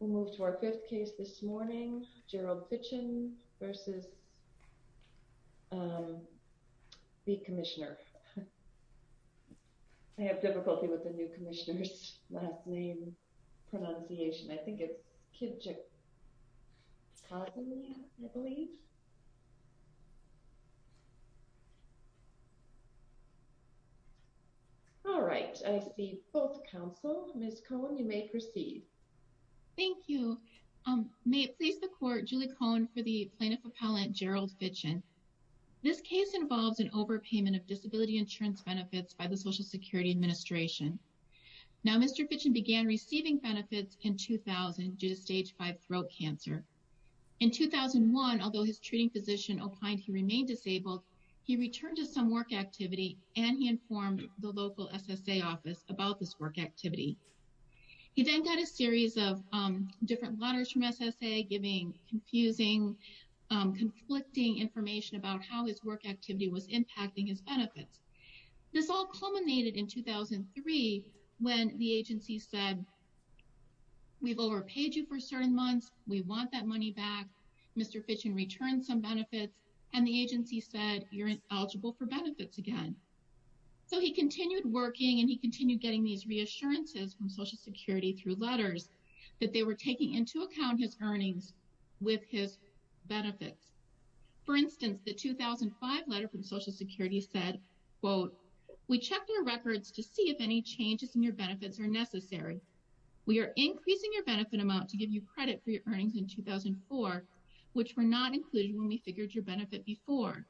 We'll move to our fifth case this morning, Gerald Fitchen versus the commissioner. I have difficulty with the new commissioner's last name pronunciation. I think it's Kijakazi, I believe. All right, I see both counsel. Ms. Cohen, you may proceed. Thank you. May it please the court, Julie Cohen for the plaintiff appellant, Gerald Fitchen. This case involves an overpayment of disability insurance benefits by the Social Security Administration. Now, Mr. Fitchen began receiving benefits in 2000 due to stage five throat cancer. In 2001, although his treating physician opined he remained disabled, he returned to some work activity and he informed the local SSA office about this work activity. He then got a series of different letters from SSA giving confusing, conflicting information about how his work activity was impacting his benefits. This all culminated in 2003 when the agency said, we've overpaid you for certain months, we want that money back. Mr. Fitchen returned some benefits and the agency said, you're ineligible for benefits again. So he continued working and he continued getting these reassurances from Social Security through letters that they were taking into account his earnings with his benefits. For instance, the 2005 letter from Social Security said, quote, we checked your records to see if any changes in your benefits are necessary. We are increasing your benefit amount to give you credit for your earnings in 2004, which were not included when we figured your benefit before.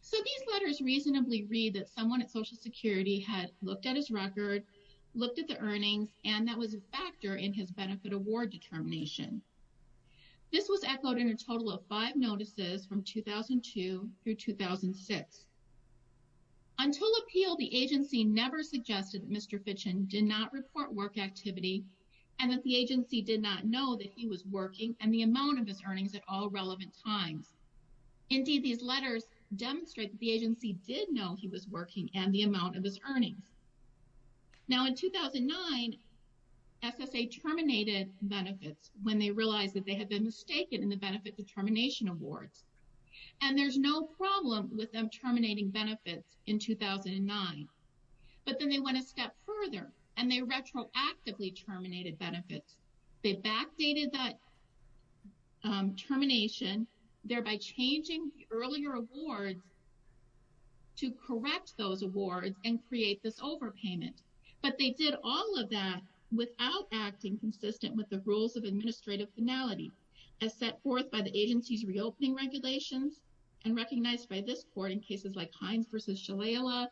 So these letters reasonably read that someone at Social Security had looked at his record, looked at the earnings, and that was a factor in his benefit award determination. This was echoed in a total of five notices from 2002 through 2006. Until appeal, the agency never suggested that Mr. Fitchen did not report work activity and that the agency did not know that he was working and the amount of his earnings at all relevant times. Indeed, these letters demonstrate that the agency did know he was working and the amount of his earnings. Now in 2009, SSA terminated benefits when they realized that they had been mistaken in the benefit determination awards. And there's no problem with them terminating benefits in 2009 but then they went a step further and they retroactively terminated benefits. They backdated that termination thereby changing earlier awards to correct those awards and create this overpayment. But they did all of that without acting consistent with the rules of administrative finality as set forth by the agency's reopening regulations and recognized by this court in cases like Hines versus Shalala,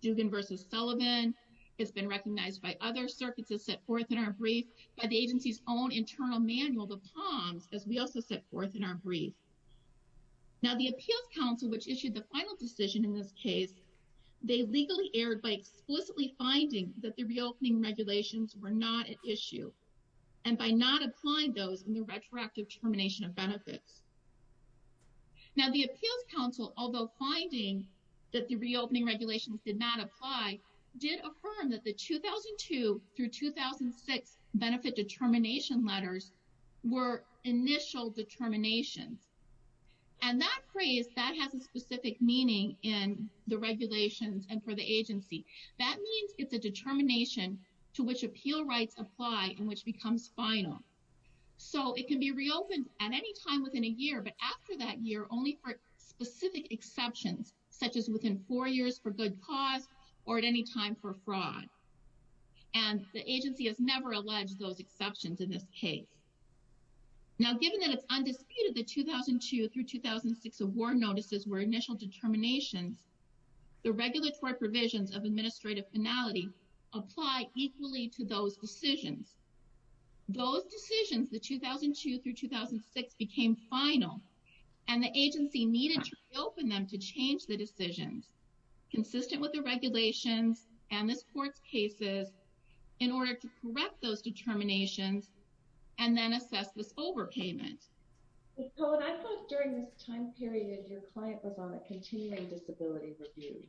Dugan versus Sullivan. It's been recognized by other circuits as set forth in our brief by the agency's own internal manual, the TOMS, as we also set forth in our brief. Now the appeals council, which issued the final decision in this case, they legally erred by explicitly finding that the reopening regulations were not at issue and by not applying those in the retroactive termination of benefits. Now the appeals council, although finding that the reopening regulations did not apply, did affirm that the 2002 through 2006 benefit determination letters were initial determinations. And that phrase, that has a specific meaning in the regulations and for the agency. That means it's a determination to which appeal rights apply and which becomes final. So it can be reopened at any time within a year, but after that year, only for specific exceptions, such as within four years for good cause or at any time for fraud. And the agency has never alleged those exceptions in this case. Now, given that it's undisputed, the 2002 through 2006 award notices were initial determinations. The regulatory provisions of administrative finality apply equally to those decisions. Those decisions, the 2002 through 2006 became final and the agency needed to reopen them to change the decisions consistent with the regulations and this court's cases in order to correct those determinations and then assess this overpayment. So when I thought during this time period, your client was on a continuing disability review.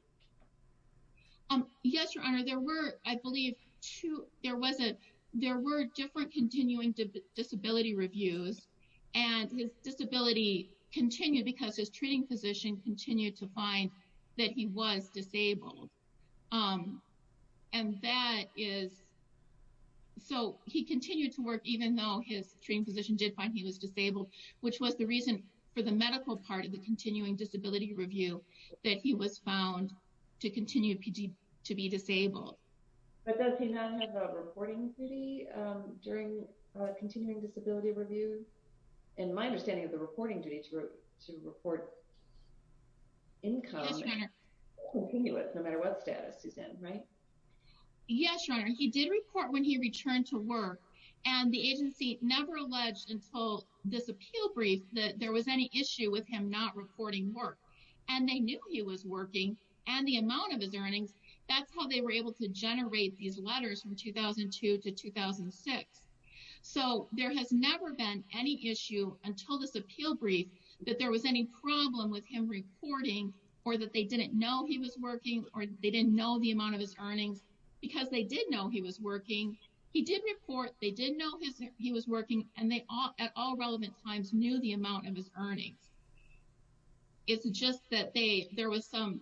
Yes, Your Honor, there were, I believe two, there were different continuing disability reviews and his disability continued because his treating physician continued to find that he was disabled. And that is, so he continued to work even though his treating physician did find he was disabled, which was the reason for the medical part of the continuing disability review that he was found to continue to be disabled. But does he not have a reporting duty during a continuing disability review? In my understanding of the reporting duty to report income, no matter what status he's in, right? Yes, Your Honor, he did report when he returned to work and the agency never alleged until this appeal brief that there was any issue with him not reporting work. And they knew he was working and the amount of his earnings, that's how they were able to generate these letters from 2002 to 2006. So there has never been any issue until this appeal brief that there was any problem with him reporting or that they didn't know he was working or they didn't know the amount of his earnings because they did know he was working. He did report, they did know he was working and they at all relevant times knew the amount of his earnings. It's just that there was some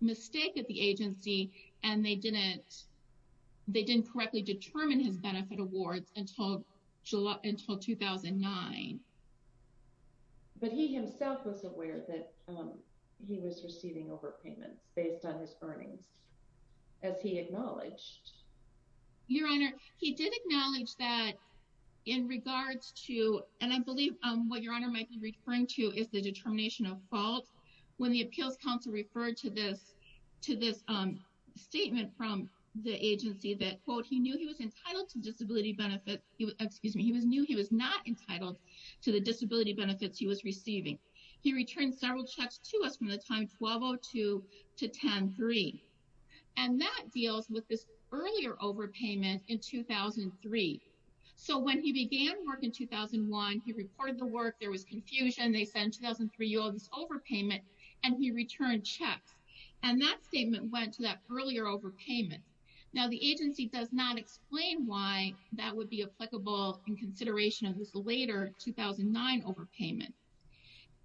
mistake at the agency and they didn't correctly determine his benefit awards until 2009. But he himself was aware that he was receiving overpayments based on his earnings as he acknowledged. Your Honor, he did acknowledge that in regards to, and I believe what Your Honor might be referring to is the determination of fault. When the appeals counsel referred to this statement from the agency that quote, he knew he was entitled to disability benefit, excuse me, he was new, he was not entitled to the disability benefits he was receiving. He returned several checks to us from the time 1202 to 10-3 and that deals with this earlier overpayment in 2003. So when he began work in 2001, he reported the work, there was confusion, they sent 2003 yields overpayment and he returned checks. And that statement went to that earlier overpayment. Now the agency does not explain why that would be applicable in consideration of this later 2009 overpayment.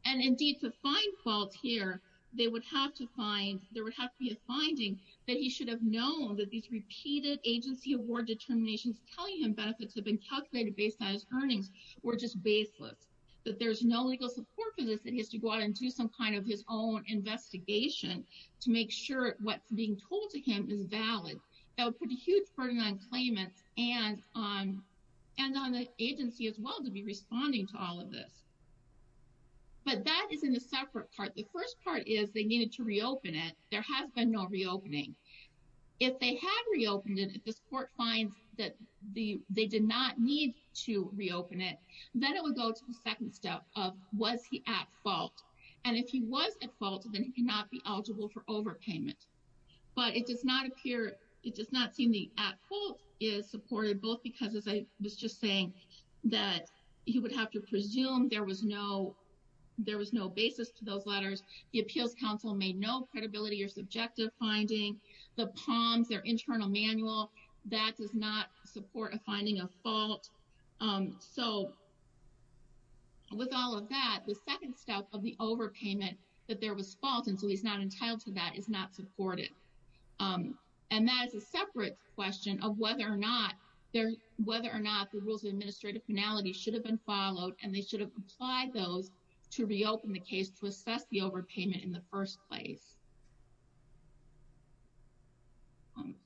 And indeed to find fault here, they would have to find, there would have to be a finding that he should have known that these repeated agency award determinations telling him benefits have been calculated based on his earnings were just baseless. That there's no legal support for this and he has to go out and do some kind of his own investigation to make sure what's being told to him is valid. That would put a huge burden on claimants and on the agency as well to be responding to all of this. But that is in a separate part. The first part is they needed to reopen it. There has been no reopening. If they have reopened it, if this court finds that they did not need to reopen it, then it would go to the second step of was he at fault? And if he was at fault, then he cannot be eligible for overpayment. But it does not appear, it does not seem the at fault is supported both because as I was just saying that he would have to presume there was no, there was no basis to those letters. The appeals counsel made no credibility or subjective finding. The palms, their internal manual, that does not support a finding of fault. So with all of that, the second step of the overpayment that there was fault and so he's not entitled to that is not supported. And that is a separate question of whether or not there, whether or not the rules of administrative penalty should have been followed and they should have applied those to reopen the case to assess the overpayment in the first place.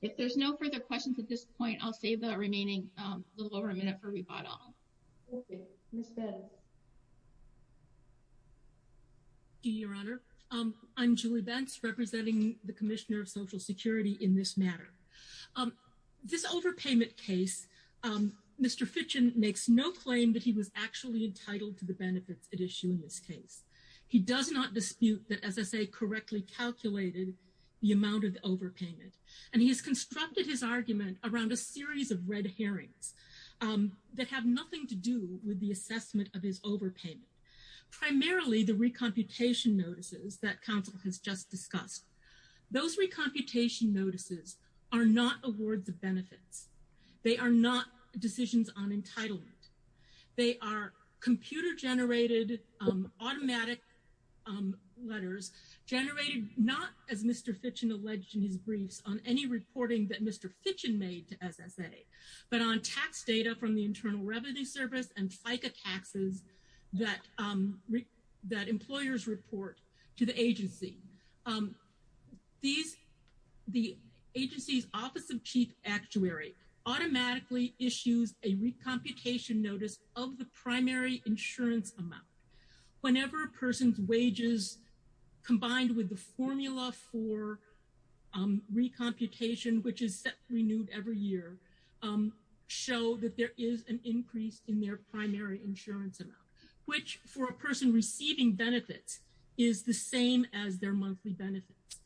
If there's no further questions at this point, I'll save the remaining little over a minute for rebuttal. Okay, Ms. Betz. Thank you, Your Honor. I'm Julie Betz representing the commissioner of social security in this matter. This overpayment case, Mr. Fitchin makes no claim that he was actually entitled to the benefits at issue in this case. He does not dispute that as I say, correctly calculated the amount of the overpayment. And he has constructed his argument around a series of red herrings that have nothing to do with the assessment of his overpayment. Primarily the recomputation notices that counsel has just discussed. Those recomputation notices are not awards of benefits. They are not decisions on entitlement. They are computer generated automatic letters generated not as Mr. Fitchin alleged in his briefs on any reporting that Mr. Fitchin made to SSA, but on tax data from the Internal Revenue Service and FICA taxes that employers report to the agency. These, the agency's office of chief actuary automatically issues a recomputation notice of the primary insurance amount. Whenever a person's wages combined with the formula for recomputation, which is set renewed every year, show that there is an increase in their primary insurance amount, which for a person receiving benefits is the same as their monthly benefits.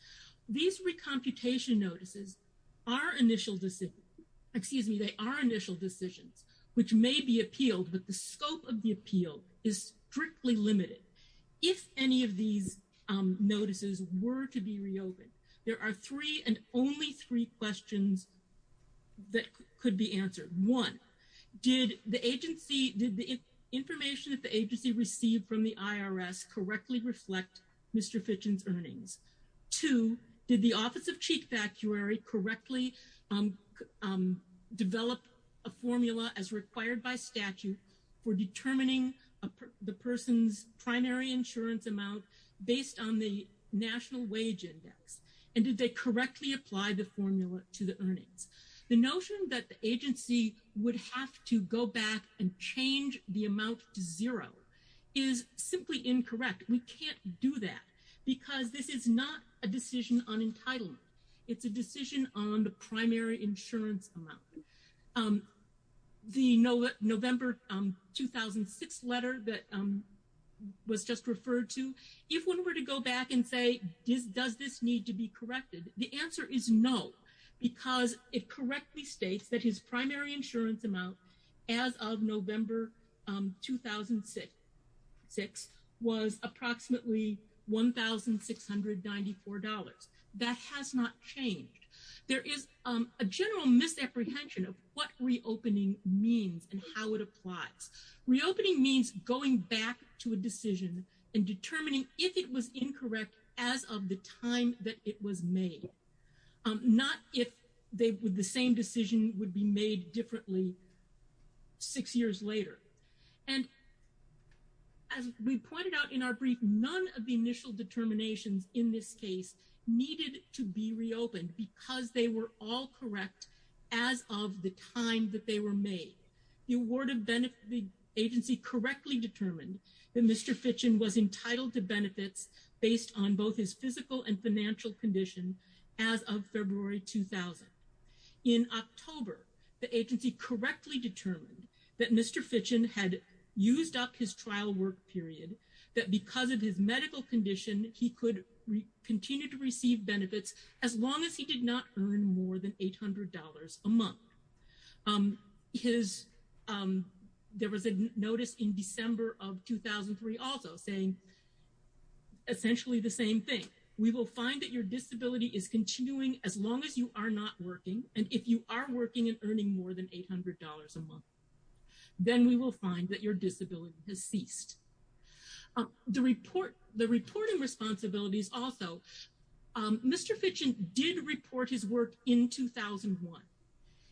These recomputation notices are initial decision, excuse me, they are initial decisions, which may be appealed, but the scope of the appeal is strictly limited. If any of these notices were to be reopened, there are three and only three questions that could be answered. One, did the information that the agency received from the IRS correctly reflect Mr. Fitchin's earnings? Two, did the office of chief actuary correctly develop a formula as required by statute for determining the person's primary insurance amount based on the national wage index? And did they correctly apply the formula to the earnings? The notion that the agency would have to go back and change the amount to zero is simply incorrect. We can't do that because this is not a decision on entitlement. It's a decision on the primary insurance amount. The November 2006 letter that was just referred to, if one were to go back and say, does this need to be corrected? The answer is no, because it correctly states that his primary insurance amount as of November 2006 was approximately $1,694. That has not changed. There is a general misapprehension of what reopening means and how it applies. Reopening means going back to a decision and determining if it was incorrect as of the time that it was made, not if the same decision would be made differently six years later. And as we pointed out in our brief, none of the initial determinations in this case needed to be reopened because they were all correct as of the time that they were made. The award of benefit agency correctly determined that Mr. Fitchin was entitled to benefits based on both his physical and financial condition as of February, 2000. In October, the agency correctly determined that Mr. Fitchin had used up his trial work period that because of his medical condition, he could continue to receive benefits as long as he did not earn more than $800 a month. There was a notice in December of 2003 also saying, essentially the same thing. We will find that your disability is continuing as long as you are not working. And if you are working and earning more than $800 a month, then we will find that your disability has ceased. The reporting responsibilities also, Mr. Fitchin did report his work in 2001.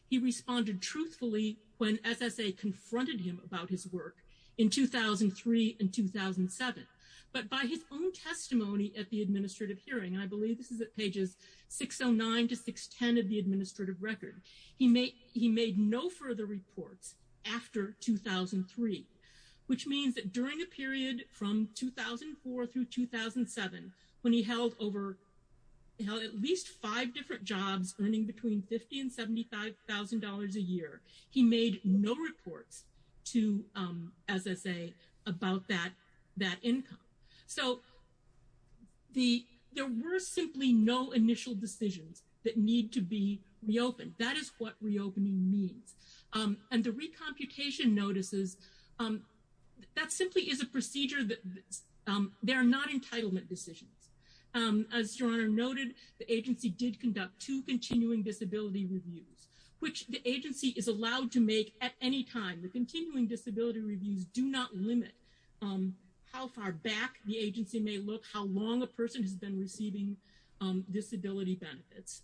He responded truthfully when SSA confronted him about his work in 2003 and 2007. But by his own testimony at the administrative hearing, and I believe this is at pages 609 to 610 of the administrative record, he made no further reports after 2003, which means that during a period from 2004 through 2007, when he held at least five different jobs earning between 50 and $75,000 a year, he made no reports to SSA about that income. So there were simply no initial decisions that need to be reopened. That is what reopening means. And the recomputation notices, that simply is a procedure that, they're not entitlement decisions. As your Honor noted, the agency did conduct two continuing disability reviews, which the agency is allowed to make at any time. The continuing disability reviews do not limit how far back the agency may look, how long a person has been receiving disability benefits.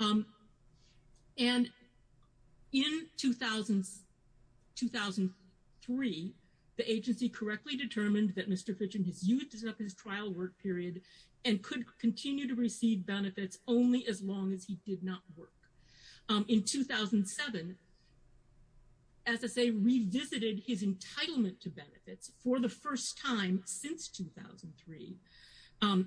And in 2003, the agency correctly determined that Mr. Fitchin disused his trial work period and could continue to receive benefits only as long as he did not work. In 2007, SSA revisited his entitlement to benefits for the first time since 2003.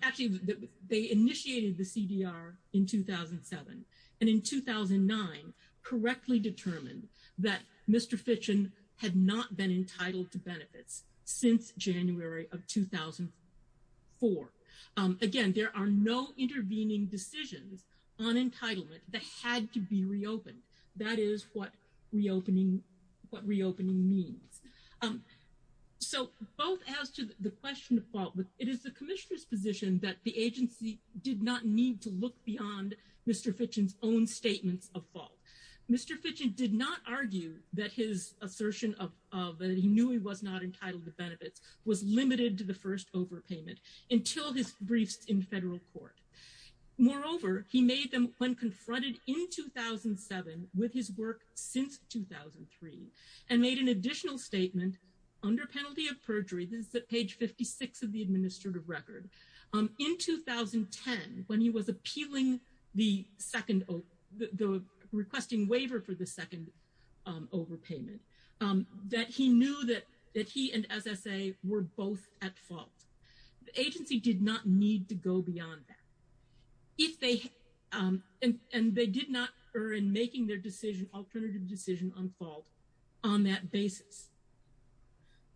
Actually, they initiated the CDR in 2007. And in 2009, correctly determined that Mr. Fitchin had not been entitled to benefits since January of 2004. Again, there are no intervening decisions on entitlement that had to be reopened. That is what reopening means. So both as to the question of fault, it is the commissioner's position that the agency did not need to look beyond Mr. Fitchin's own statements of fault. Mr. Fitchin did not argue that his assertion of, that he knew he was not entitled to benefits was limited to the first overpayment until his briefs in federal court. Moreover, he made them when confronted in 2007 with his work since 2003 and made an additional statement under penalty of perjury. This is at page 56 of the administrative record. In 2010, when he was appealing the second, the requesting waiver for the second overpayment, that he knew that he and SSA were both at fault. The agency did not need to go beyond that. If they, and they did not err in making their decision, alternative decision on fault on that basis.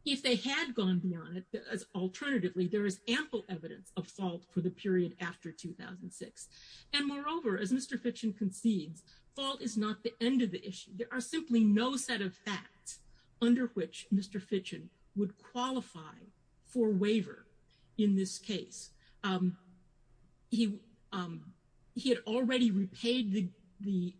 If they had gone beyond it, alternatively there is ample evidence of fault for the period after 2006. And moreover, as Mr. Fitchin concedes, fault is not the end of the issue. There are simply no set of facts under which Mr. Fitchin would qualify for waiver in this case. He had already repaid the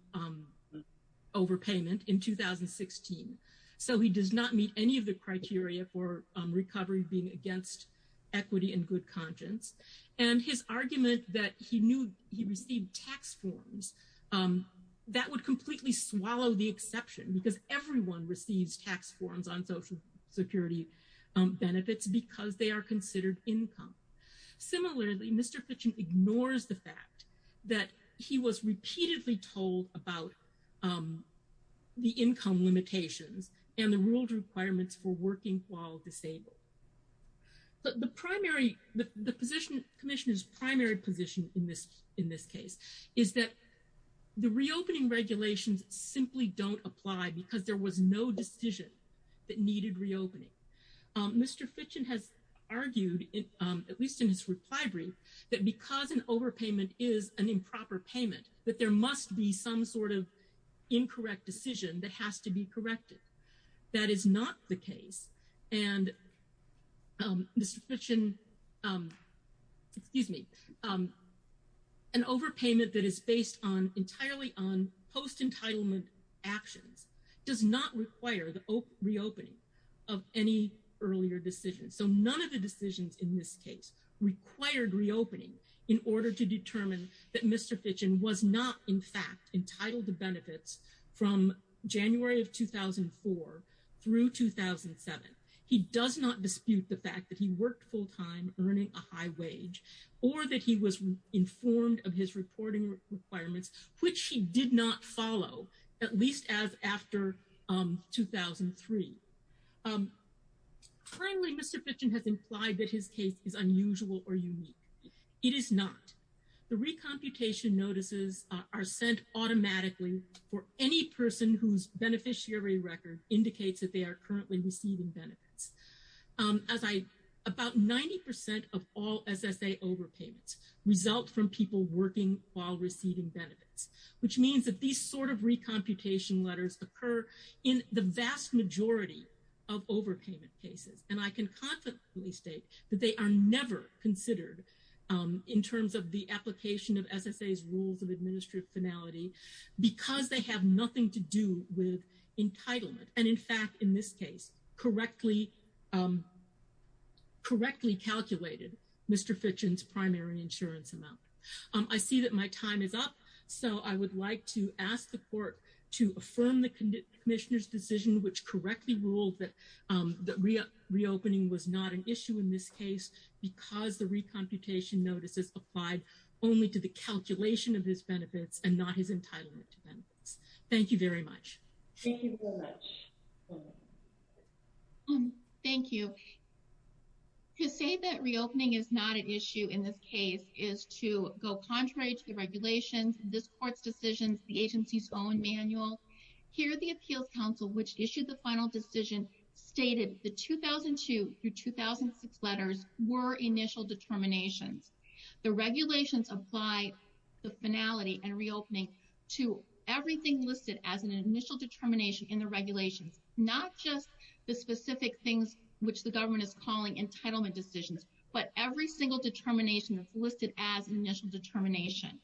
overpayment in 2016. So he does not meet any of the criteria for recovery being against equity and good conscience. And his argument that he knew he received tax forms, that would completely swallow the exception because everyone receives tax forms on social security benefits because they are considered income. Similarly, Mr. Fitchin ignores the fact that he was repeatedly told about the income limitations and the ruled requirements for working while disabled. But the primary, the position, commissioners primary position in this case is that the reopening regulations simply don't apply because there was no decision that needed reopening. Mr. Fitchin has argued, at least in his reply brief, that because an overpayment is an improper payment, that there must be some sort of incorrect decision that has to be corrected. That is not the case. And Mr. Fitchin, excuse me, an overpayment that is based entirely on post-entitlement actions does not require the reopening of any earlier decisions. So none of the decisions in this case required reopening in order to determine that Mr. Fitchin was not in fact entitled to benefits from January of 2004 through 2007. He does not dispute the fact that he worked full-time earning a high wage or that he was informed of his reporting requirements, which he did not follow, at least as after 2003. Currently, Mr. Fitchin has implied that his case is unusual or unique. It is not. The recomputation notices are sent automatically for any person whose beneficiary record indicates that they are currently receiving benefits. As I, about 90% of all SSA overpayments result from people working while receiving benefits, which means that these sort of recomputation letters occur in the vast majority of overpayment cases. And I can confidently state that they are never considered in terms of the application of SSA's rules of administrative finality, because they have nothing to do with entitlement. And in fact, in this case, correctly calculated Mr. Fitchin's primary insurance. I see that my time is up. So I would like to ask the court to affirm the commissioner's decision, which correctly ruled that reopening was not an issue in this case, because the recomputation notices applied only to the calculation of his benefits and not his entitlement to benefits. Thank you very much. Thank you very much. Thank you. So to say that reopening is not an issue in this case is to go contrary to the regulations, this court's decisions, the agency's own manual. Here, the appeals council, which issued the final decision, stated the 2002 through 2006 letters were initial determinations. The regulations apply the finality and reopening to everything listed as an initial determination in the regulations, not just the specific things which the government is calling entitlement decisions, but every single determination that's listed as initial determination.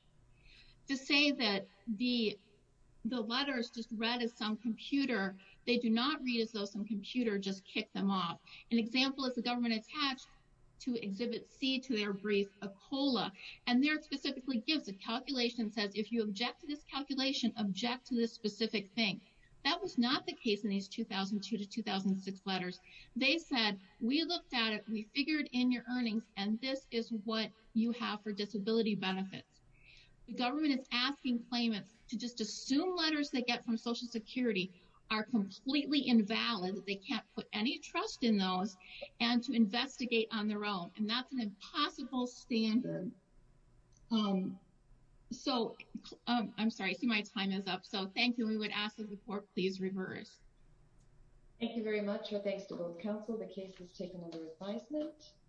To say that the letters just read as some computer, they do not read as though some computer just kicked them off. An example is the government attached to exhibit C to their brief, a COLA, and there it specifically gives a calculation that says if you object to this calculation, object to this specific thing. That was not the case in these 2002 to 2006 letters. They said, we looked at it, we figured in your earnings, and this is what you have for disability benefits. The government is asking claimants to just assume letters they get from Social Security are completely invalid, that they can't put any trust in those, and to investigate on their own. And that's an impossible standard. So, I'm sorry, I see my time is up. So, thank you. We would ask the report, please reverse. Thank you very much. Our thanks to both council. The case is taken under advisement.